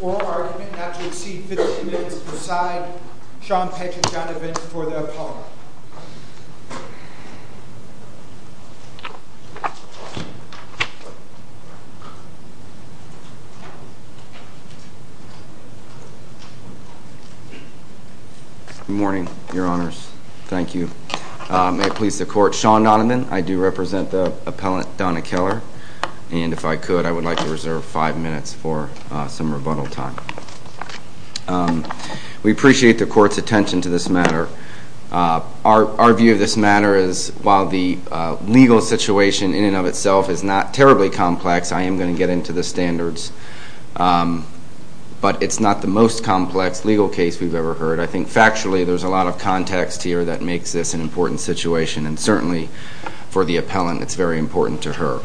Oral argument not to exceed 15 minutes, preside, Sean Patrick Donovan for the Apollo. Good morning, Your Honors. Thank you. May it please the Court, Sean Donovan, I do represent the appellant Donna Keller, and if I could, I would like to reserve five minutes for some Our view of this matter is, while the legal situation in and of itself is not terribly complex, I am going to get into the standards. But it's not the most complex legal case we've ever heard. I think factually, there's a lot of context here that makes this an important situation, and certainly for the appellant, it's very important to her.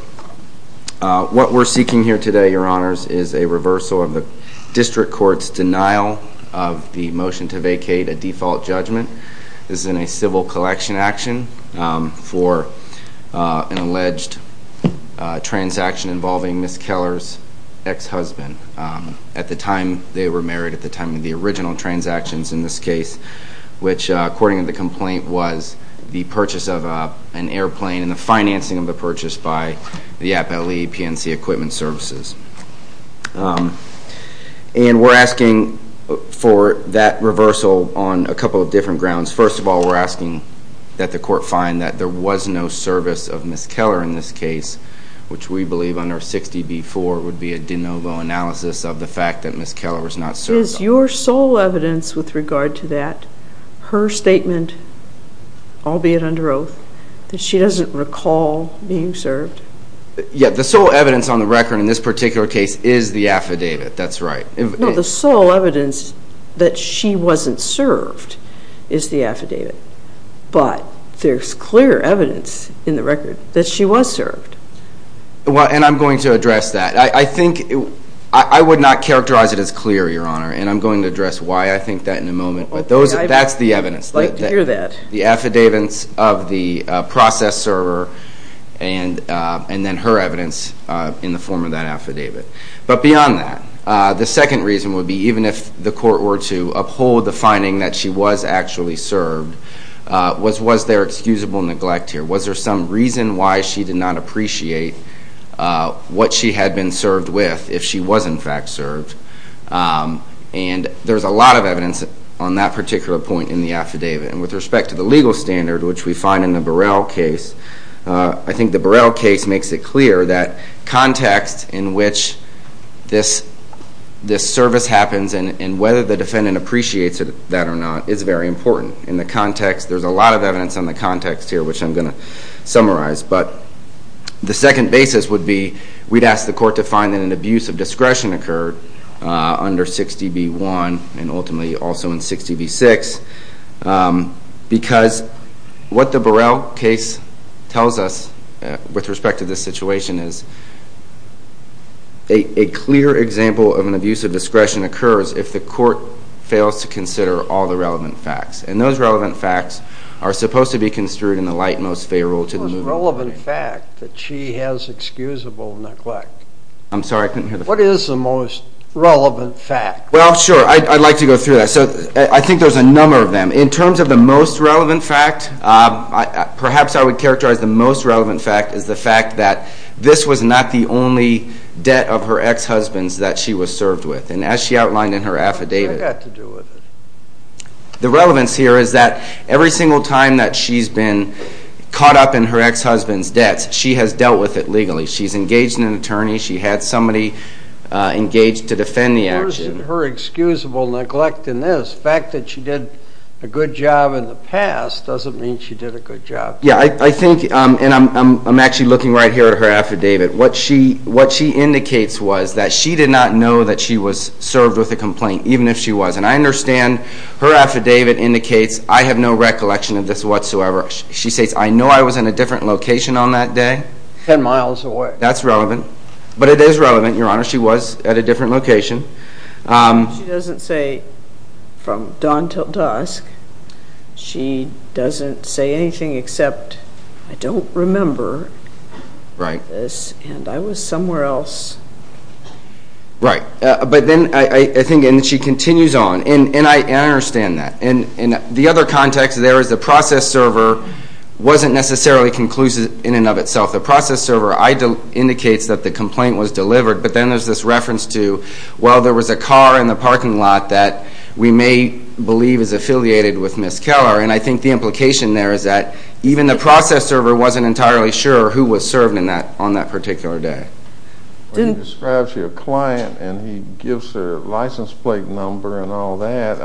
What we're seeking here today, Your Honors, is a reversal of the district court's denial of the motion to vacate a default judgment. This is in a civil collection action for an alleged transaction involving Ms. Keller's ex-husband. At the time they were married, at the time of the original transactions in this case, which, according to the complaint, was the purchase of an airplane and the financing of the purchase by the Appellee PNC Equipment Services. And we're asking for that reversal on a couple of different grounds. First of all, we're asking that the Court find that there was no service of Ms. Keller in this case, which we believe under 60B-4 would be a de novo analysis of the fact that Ms. Keller was not served. Is your sole evidence with regard to that, her statement, albeit under oath, that she doesn't recall being served? Yeah, the sole evidence on the record in this particular case is the affidavit, that's right. No, the sole evidence that she wasn't served is the affidavit, but there's clear evidence in the record that she was served. Well, and I'm going to address that. I think, I would not characterize it as clear, Your Honor, and I'm going to address why I think that in a moment, but that's the evidence. I'd like to hear that. The affidavits of the process server and then her evidence in the form of that affidavit. But beyond that, the second reason would be even if the Court were to uphold the finding that she was actually served, was there excusable neglect here? Was there some reason why she did not appreciate what she had been served with if she was in fact served? And there's a lot of evidence on that particular point in the affidavit. And with respect to the legal standard, which we find in the Burrell case, I think the Burrell case makes it clear that context in which this service happens and whether the defendant appreciates that or not is very important. In the context, there's a lot of evidence on the context here, which I'm going to summarize. But the second basis would be we'd ask the Court to find that an abuse of discretion occurred under 60 v. 1 and ultimately also in 60 v. 6. Because what the Burrell case tells us with respect to this situation is a clear example of an abuse of discretion occurs if the Court fails to consider all the relevant facts. And those relevant facts are supposed to be construed in the light most favorable to the movement. What is the most relevant fact that she has excusable neglect? I'm sorry, I couldn't hear the question. What is the most relevant fact? Well, sure, I'd like to go through that. So I think there's a number of them. In terms of the most relevant fact, perhaps I would characterize the most relevant fact as the fact that this was not the only debt of her ex-husbands that she was served with. And as she outlined in her affidavit, the relevance here is that every single time that she's been caught up in her ex-husband's debts, she has dealt with it legally. She's engaged in an attorney. She had somebody engaged to defend the action. Where is her excusable neglect in this? The fact that she did a good job in the past doesn't mean she did a good job. Yeah, I think, and I'm actually looking right here at her affidavit. What she indicates was that she did not know that she was served with a complaint, even if she was. And I understand her affidavit indicates, I have no recollection of this whatsoever. She says, I know I was in a different location on that day. Ten miles away. That's relevant. But it is relevant, Your Honor. She was at a different location. She doesn't say from dawn till dusk. She doesn't say anything except, I don't remember. Right. And I was somewhere else. Right. But then I think, and she continues on. And I understand that. And the other context there is the process server wasn't necessarily conclusive in and of itself. The process server indicates that the complaint was delivered. But then there's this reference to, well, there was a car in the parking lot that we may believe is affiliated with Ms. Keller. And I think the implication there is that even the process server wasn't entirely sure who was served on that particular day. Well, you described to your client, and he gives her a license plate number and all that.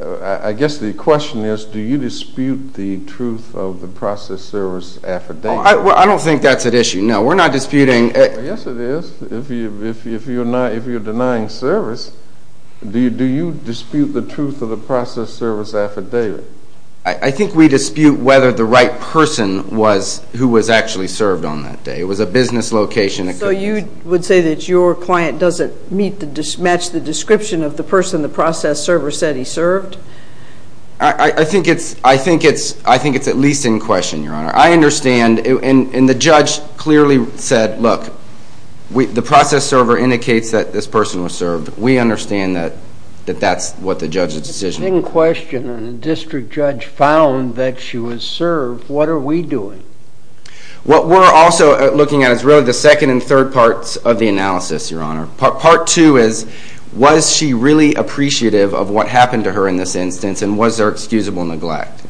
I guess the question is, do you dispute the truth of the process server's affidavit? Well, I don't think that's at issue. No, we're not disputing. Yes, it is. If you're denying service, do you dispute the truth of the process server's affidavit? I think we dispute whether the right person was who was actually served on that day. It was a business location. So you would say that your client doesn't match the description of the person the process server said he served? I think it's at least in question, Your Honor. I understand, and the judge clearly said, look, the process server indicates that this person was served. We understand that that's what the judge's decision was. It's in question, and the district judge found that she was served. What are we doing? What we're also looking at is really the second and third parts of the analysis, Your Honor. Part two is, was she really appreciative of what happened to her in this instance, and was there excusable neglect?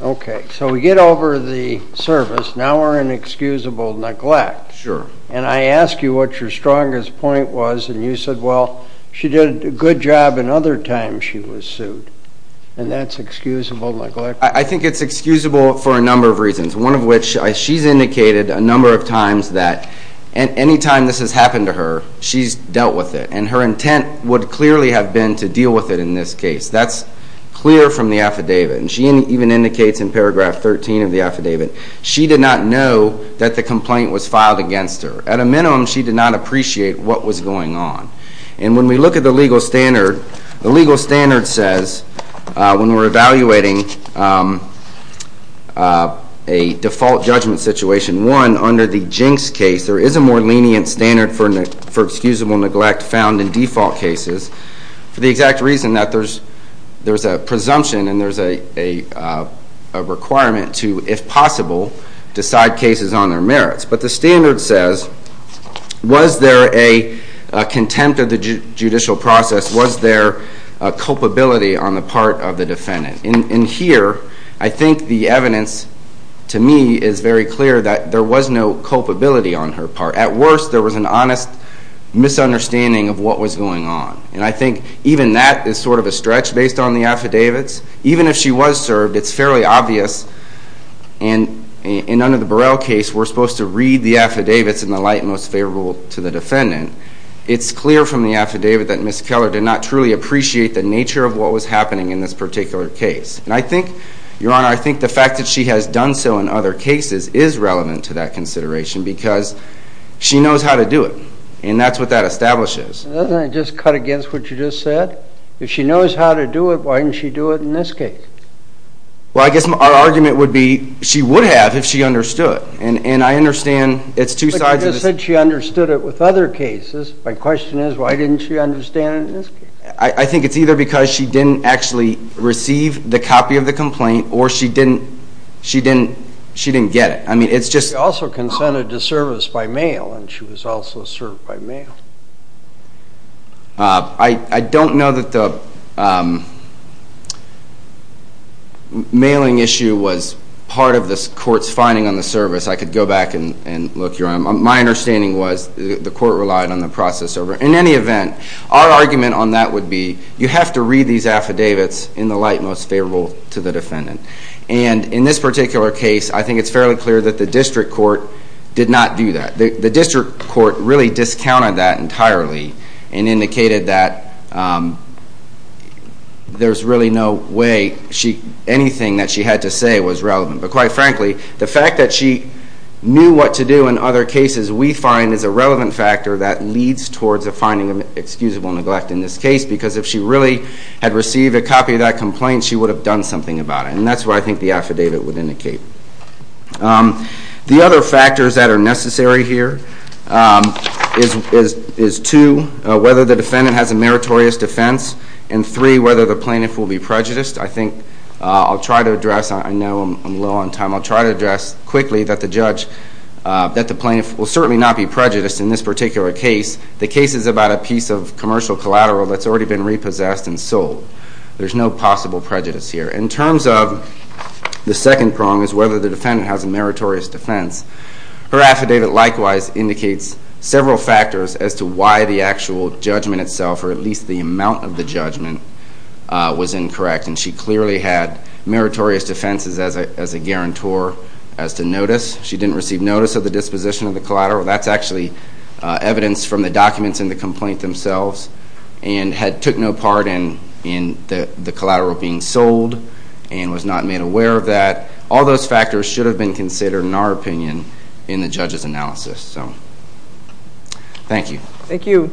Okay, so we get over the service. Now we're in excusable neglect. Sure. And I ask you what your strongest point was, and you said, well, she did a good job another time she was sued, and that's excusable neglect? I think it's excusable for a number of reasons, one of which she's indicated a number of times that any time this has happened to her, she's dealt with it. And her intent would clearly have been to deal with it in this case. That's clear from the affidavit, and she even indicates in paragraph 13 of the affidavit she did not know that the complaint was filed against her. At a minimum, she did not appreciate what was going on. And when we look at the legal standard, the legal standard says when we're evaluating a default judgment situation, one, under the Jinx case there is a more lenient standard for excusable neglect found in default cases for the exact reason that there's a presumption and there's a requirement to, if possible, decide cases on their merits. But the standard says, was there a contempt of the judicial process? Was there a culpability on the part of the defendant? And here, I think the evidence to me is very clear that there was no culpability on her part. Or at worst, there was an honest misunderstanding of what was going on. And I think even that is sort of a stretch based on the affidavits. Even if she was served, it's fairly obvious. And under the Burrell case, we're supposed to read the affidavits in the light most favorable to the defendant. It's clear from the affidavit that Ms. Keller did not truly appreciate the nature of what was happening in this particular case. And I think, Your Honor, I think the fact that she has done so in other cases is relevant to that consideration because she knows how to do it. And that's what that establishes. Doesn't it just cut against what you just said? If she knows how to do it, why didn't she do it in this case? Well, I guess our argument would be she would have if she understood. And I understand it's two sides of the same coin. But you just said she understood it with other cases. My question is, why didn't she understand it in this case? I think it's either because she didn't actually receive the copy of the complaint or she didn't get it. She also consented to service by mail, and she was also served by mail. I don't know that the mailing issue was part of the court's finding on the service. I could go back and look, Your Honor. My understanding was the court relied on the process over it. In any event, our argument on that would be you have to read these affidavits in the light most favorable to the defendant. And in this particular case, I think it's fairly clear that the district court did not do that. The district court really discounted that entirely and indicated that there's really no way anything that she had to say was relevant. But quite frankly, the fact that she knew what to do in other cases we find is a relevant factor that leads towards a finding of excusable neglect in this case. Because if she really had received a copy of that complaint, she would have done something about it. And that's what I think the affidavit would indicate. The other factors that are necessary here is two, whether the defendant has a meritorious defense, and three, whether the plaintiff will be prejudiced. I think I'll try to address, I know I'm low on time, I'll try to address quickly that the judge, that the plaintiff will certainly not be prejudiced in this particular case. The case is about a piece of commercial collateral that's already been repossessed and sold. There's no possible prejudice here. In terms of the second prong is whether the defendant has a meritorious defense. Her affidavit likewise indicates several factors as to why the actual judgment itself, or at least the amount of the judgment, was incorrect. And she clearly had meritorious defenses as a guarantor as to notice. She didn't receive notice of the disposition of the collateral. That's actually evidence from the documents in the complaint themselves and took no part in the collateral being sold and was not made aware of that. All those factors should have been considered, in our opinion, in the judge's analysis. Thank you. Thank you.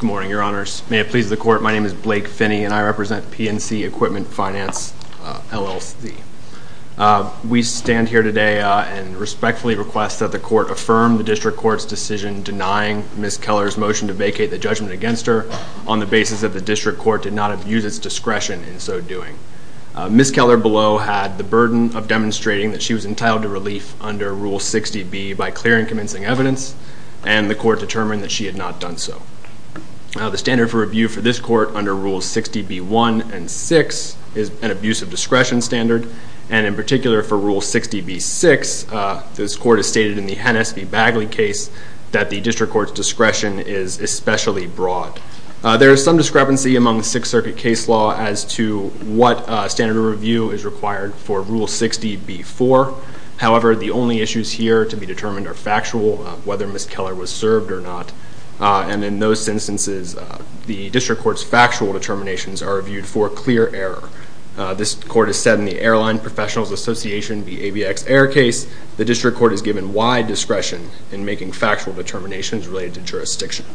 Good morning, Your Honors. May it please the Court, my name is Blake Finney, and I represent PNC Equipment Finance, LLC. We stand here today and respectfully request that the Court affirm the District Court's decision denying Ms. Keller's motion to vacate the judgment against her on the basis that the District Court did not abuse its discretion in so doing. Ms. Keller below had the burden of demonstrating that she was entitled to relief under Rule 60B by clearing convincing evidence, and the Court determined that she had not done so. The standard for review for this Court under Rules 60B-1 and 6 is an abuse of discretion standard, and in particular for Rule 60B-6, this Court has stated in the Hennessey-Bagley case that the District Court's discretion is especially broad. There is some discrepancy among the Sixth Circuit case law as to what standard of review is required for Rule 60B-4. However, the only issues here to be determined are factual, whether Ms. Keller was served or not. And in those instances, the District Court's factual determinations are reviewed for clear error. This Court has said in the Airline Professionals Association v. ABX Air case, the District Court is given wide discretion in making factual determinations related to jurisdiction.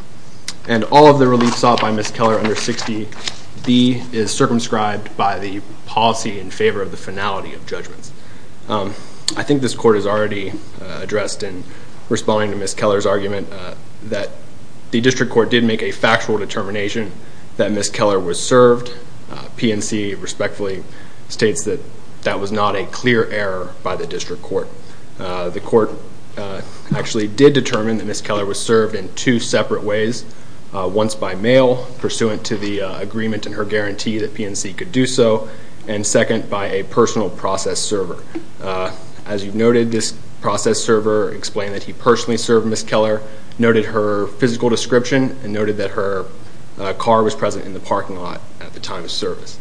And all of the relief sought by Ms. Keller under 60B is circumscribed by the policy in favor of the finality of judgments. I think this Court has already addressed in responding to Ms. Keller's argument that the District Court did make a factual determination that Ms. Keller was served. PNC respectfully states that that was not a clear error by the District Court. The Court actually did determine that Ms. Keller was served in two separate ways, once by mail pursuant to the agreement and her guarantee that PNC could do so, and second, by a personal process server. As you've noted, this process server explained that he personally served Ms. Keller, noted her physical description, and noted that her car was present in the parking lot at the time of service.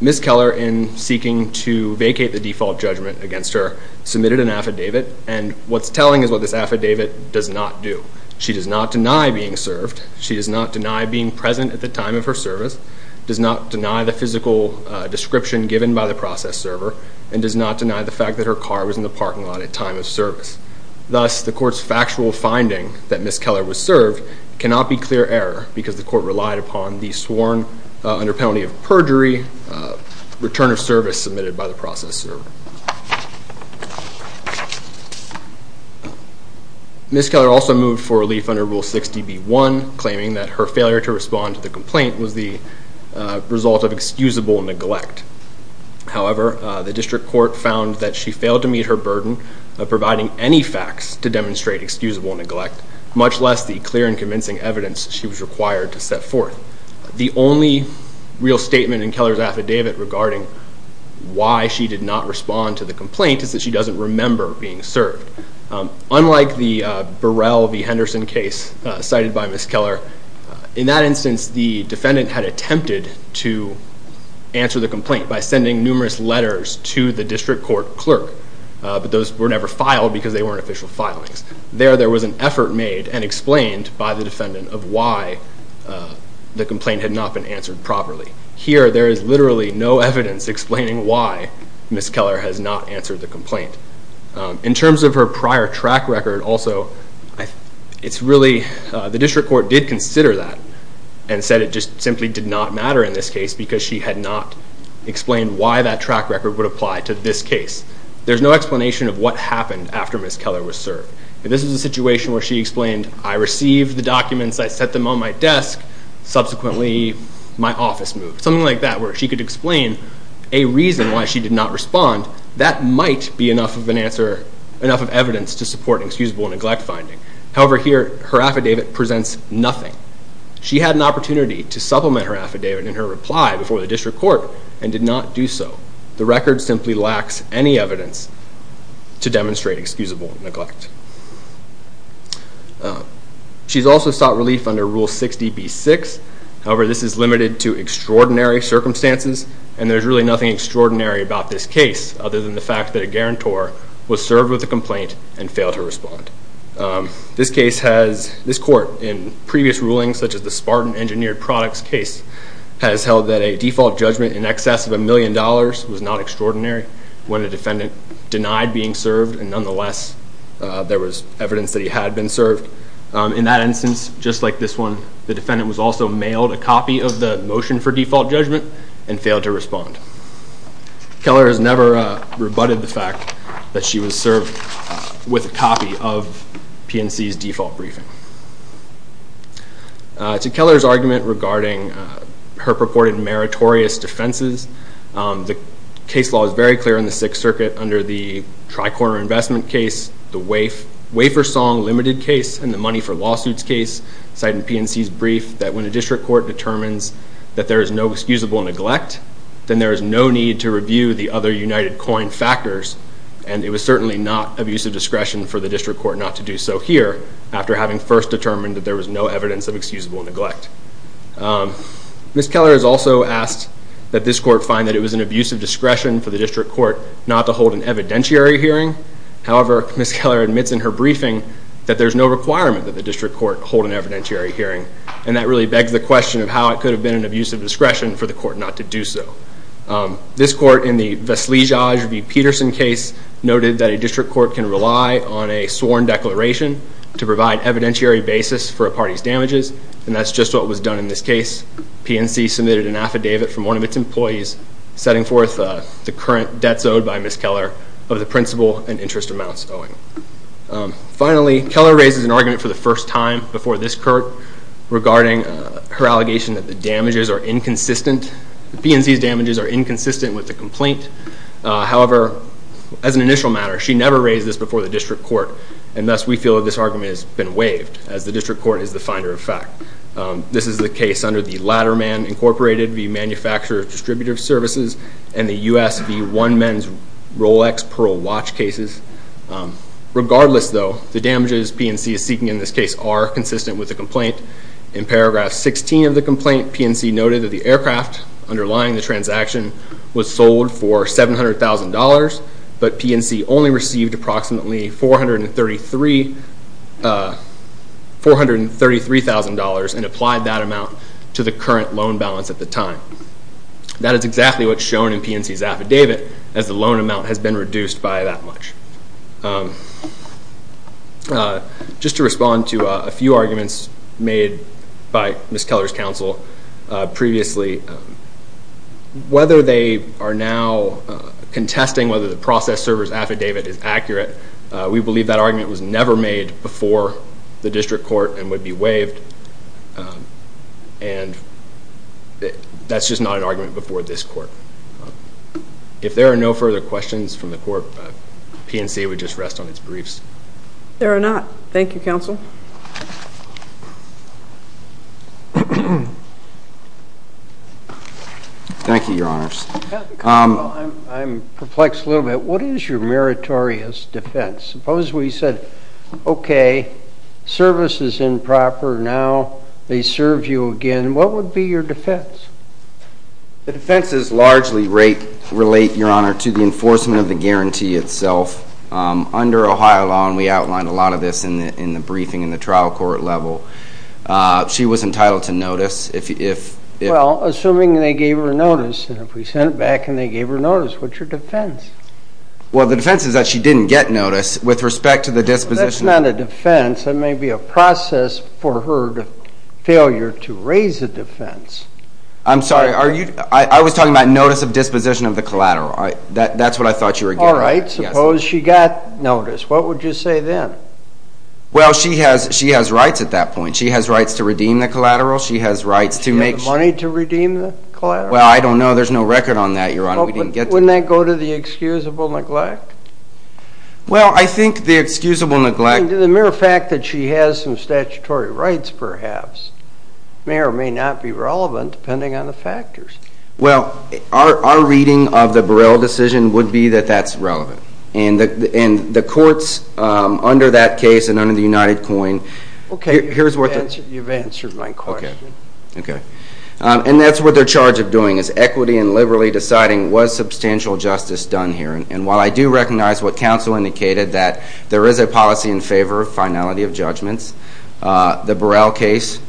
Ms. Keller, in seeking to vacate the default judgment against her, submitted an affidavit. And what's telling is what this affidavit does not do. She does not deny being served. She does not deny being present at the time of her service. She does not deny the physical description given by the process server, and does not deny the fact that her car was in the parking lot at time of service. Thus, the Court's factual finding that Ms. Keller was served cannot be clear error because the Court relied upon the sworn under penalty of perjury return of service submitted by the process server. Ms. Keller also moved for relief under Rule 60B1, claiming that her failure to respond to the complaint was the result of excusable neglect. However, the District Court found that she failed to meet her burden of providing any facts to demonstrate excusable neglect, much less the clear and convincing evidence she was required to set forth. The only real statement in Keller's affidavit regarding why she did not respond to the complaint is that she doesn't remember being served. Unlike the Burrell v. Henderson case cited by Ms. Keller, in that instance, the defendant had attempted to answer the complaint by sending numerous letters to the District Court clerk, but those were never filed because they weren't official filings. There, there was an effort made and explained by the defendant of why the complaint had not been answered properly. Here, there is literally no evidence explaining why Ms. Keller has not answered the complaint. In terms of her prior track record, also, it's really, the District Court did consider that and said it just simply did not matter in this case because she had not explained why that track record would apply to this case. There's no explanation of what happened after Ms. Keller was served. This is a situation where she explained, I received the documents, I set them on my desk, subsequently, my office moved. Something like that, where she could explain a reason why she did not respond. That might be enough of an answer, enough of evidence to support an excusable neglect finding. However, here, her affidavit presents nothing. She had an opportunity to supplement her affidavit in her reply before the District Court and did not do so. The record simply lacks any evidence to demonstrate excusable neglect. She's also sought relief under Rule 60b-6. However, this is limited to extraordinary circumstances and there's really nothing extraordinary about this case other than the fact that a guarantor was served with a complaint and failed to respond. This case has, this court, in previous rulings, such as the Spartan Engineered Products case, has held that a default judgment in excess of a million dollars was not extraordinary when a defendant denied being served and, nonetheless, there was evidence that he had been served. In that instance, just like this one, the defendant was also mailed a copy of the motion for default judgment and failed to respond. Keller has never rebutted the fact that she was served with a copy of PNC's default briefing. To Keller's argument regarding her purported meritorious defenses, the case law is very clear in the Sixth Circuit under the Tri-Corner Investment case, the Wafer Song Limited case, and the Money for Lawsuits case, citing PNC's brief that when a district court determines that there is no excusable neglect, then there is no need to review the other united coin factors, and it was certainly not of use of discretion for the district court not to do so here after having first determined that there was no evidence of excusable neglect. Ms. Keller has also asked that this court find that it was an abuse of discretion for the district court not to hold an evidentiary hearing. However, Ms. Keller admits in her briefing that there is no requirement that the district court hold an evidentiary hearing, and that really begs the question of how it could have been an abuse of discretion for the court not to do so. This court, in the Veslejaj v. Peterson case, noted that a district court can rely on a sworn declaration to provide evidentiary basis for a party's damages, and that's just what was done in this case. PNC submitted an affidavit from one of its employees setting forth the current debts owed by Ms. Keller of the principal and interest amounts owing. Finally, Keller raises an argument for the first time before this court regarding her allegation that the PNC's damages are inconsistent with the complaint. However, as an initial matter, she never raised this before the district court, and thus we feel that this argument has been waived, as the district court is the finder of fact. This is the case under the Ladderman Incorporated v. Manufacturer of Distributive Services and the U.S. v. One Men's Rolex Pearl Watch cases. Regardless, though, the damages PNC is seeking in this case are consistent with the complaint. In paragraph 16 of the complaint, PNC noted that the aircraft underlying the transaction was sold for $700,000, but PNC only received approximately $433,000 and applied that amount to the current loan balance at the time. That is exactly what's shown in PNC's affidavit, as the loan amount has been reduced by that much. Just to respond to a few arguments made by Ms. Keller's counsel previously, whether they are now contesting whether the process server's affidavit is accurate, we believe that argument was never made before the district court and would be waived, and that's just not an argument before this court. If there are no further questions from the court, PNC would just rest on its briefs. There are not. Thank you, counsel. Thank you, Your Honors. Counsel, I'm perplexed a little bit. What is your meritorious defense? Suppose we said, okay, service is improper now. They serve you again. What would be your defense? The defenses largely relate, Your Honor, to the enforcement of the guarantee itself under Ohio law, and we outlined a lot of this in the briefing in the trial court level. She was entitled to notice. Well, assuming they gave her notice, and if we sent it back and they gave her notice, what's your defense? Well, the defense is that she didn't get notice with respect to the disposition. That's not a defense. That may be a process for her failure to raise a defense. I'm sorry. I was talking about notice of disposition of the collateral. That's what I thought you were getting at. All right. Suppose she got notice. What would you say then? Well, she has rights at that point. She has rights to redeem the collateral. She has rights to make money to redeem the collateral. Well, I don't know. There's no record on that, Your Honor. We didn't get to that. Wouldn't that go to the excusable neglect? Well, I think the excusable neglect. The mere fact that she has some statutory rights, perhaps, may or may not be relevant, depending on the factors. Well, our reading of the Burrell decision would be that that's relevant. And the courts under that case and under the UnitedCoin. Okay. You've answered my question. Okay. And that's what they're charged of doing is equity and liberally deciding was substantial justice done here. And while I do recognize what counsel indicated, that there is a policy in favor of finality of judgments, the Burrell case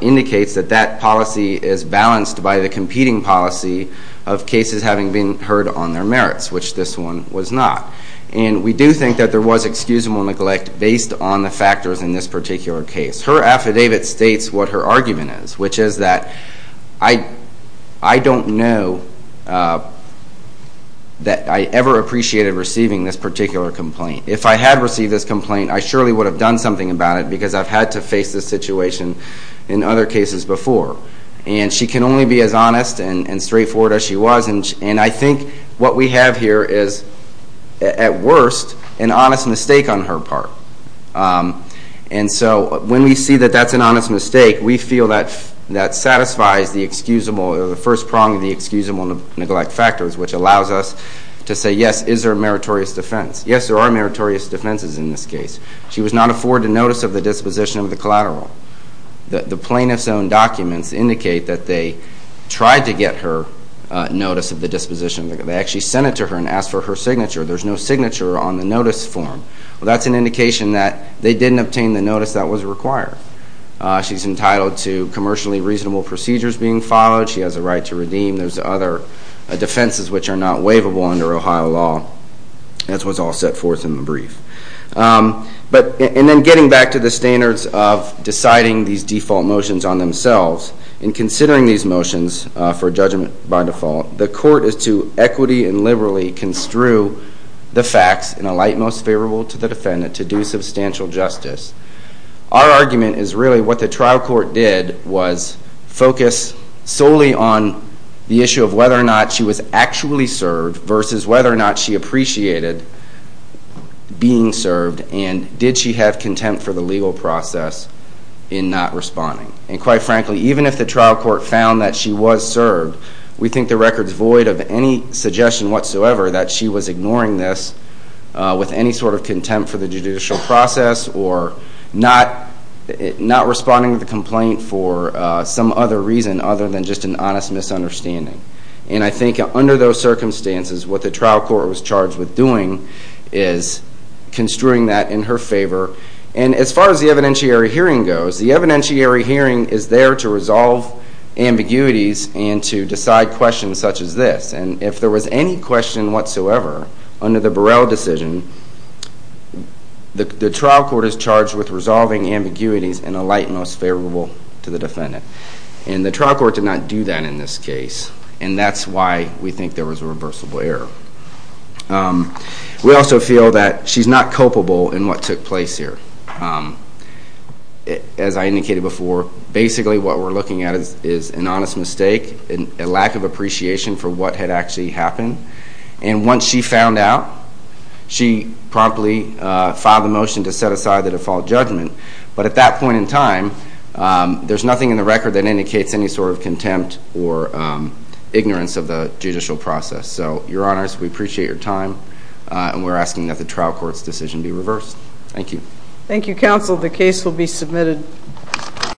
indicates that that policy is balanced by the competing policy of cases having been heard on their merits, which this one was not. And we do think that there was excusable neglect based on the factors in this particular case. Her affidavit states what her argument is, which is that I don't know that I ever appreciated receiving this particular complaint. If I had received this complaint, I surely would have done something about it because I've had to face this situation in other cases before. And she can only be as honest and straightforward as she was. And I think what we have here is, at worst, an honest mistake on her part. And so when we see that that's an honest mistake, we feel that that satisfies the excusable, the first prong of the excusable neglect factors, which allows us to say, yes, is there a meritorious defense? Yes, there are meritorious defenses in this case. She was not afforded notice of the disposition of the collateral. The plaintiff's own documents indicate that they tried to get her notice of the disposition. They actually sent it to her and asked for her signature. There's no signature on the notice form. Well, that's an indication that they didn't obtain the notice that was required. She's entitled to commercially reasonable procedures being followed. She has a right to redeem. There's other defenses which are not waivable under Ohio law, as was all set forth in the brief. And then getting back to the standards of deciding these default motions on themselves, in considering these motions for judgment by default, the court is to equity and liberally construe the facts in a light most favorable to the defendant to do substantial justice. Our argument is really what the trial court did was focus solely on the issue of whether or not she was actually served versus whether or not she appreciated being served and did she have contempt for the legal process in not responding. And quite frankly, even if the trial court found that she was served, we think the record's void of any suggestion whatsoever that she was ignoring this with any sort of contempt for the judicial process or not responding to the complaint for some other reason other than just an honest misunderstanding. And I think under those circumstances, what the trial court was charged with doing is construing that in her favor. And as far as the evidentiary hearing goes, the evidentiary hearing is there to resolve ambiguities and to decide questions such as this. And if there was any question whatsoever under the Burrell decision, the trial court is charged with resolving ambiguities in a light most favorable to the defendant. And the trial court did not do that in this case, and that's why we think there was a reversible error. We also feel that she's not culpable in what took place here. As I indicated before, basically what we're looking at is an honest mistake, a lack of appreciation for what had actually happened. And once she found out, she promptly filed a motion to set aside the default judgment. But at that point in time, there's nothing in the record that indicates any sort of contempt or ignorance of the judicial process. So, Your Honors, we appreciate your time, and we're asking that the trial court's decision be reversed. Thank you. Thank you, counsel. The case will be submitted.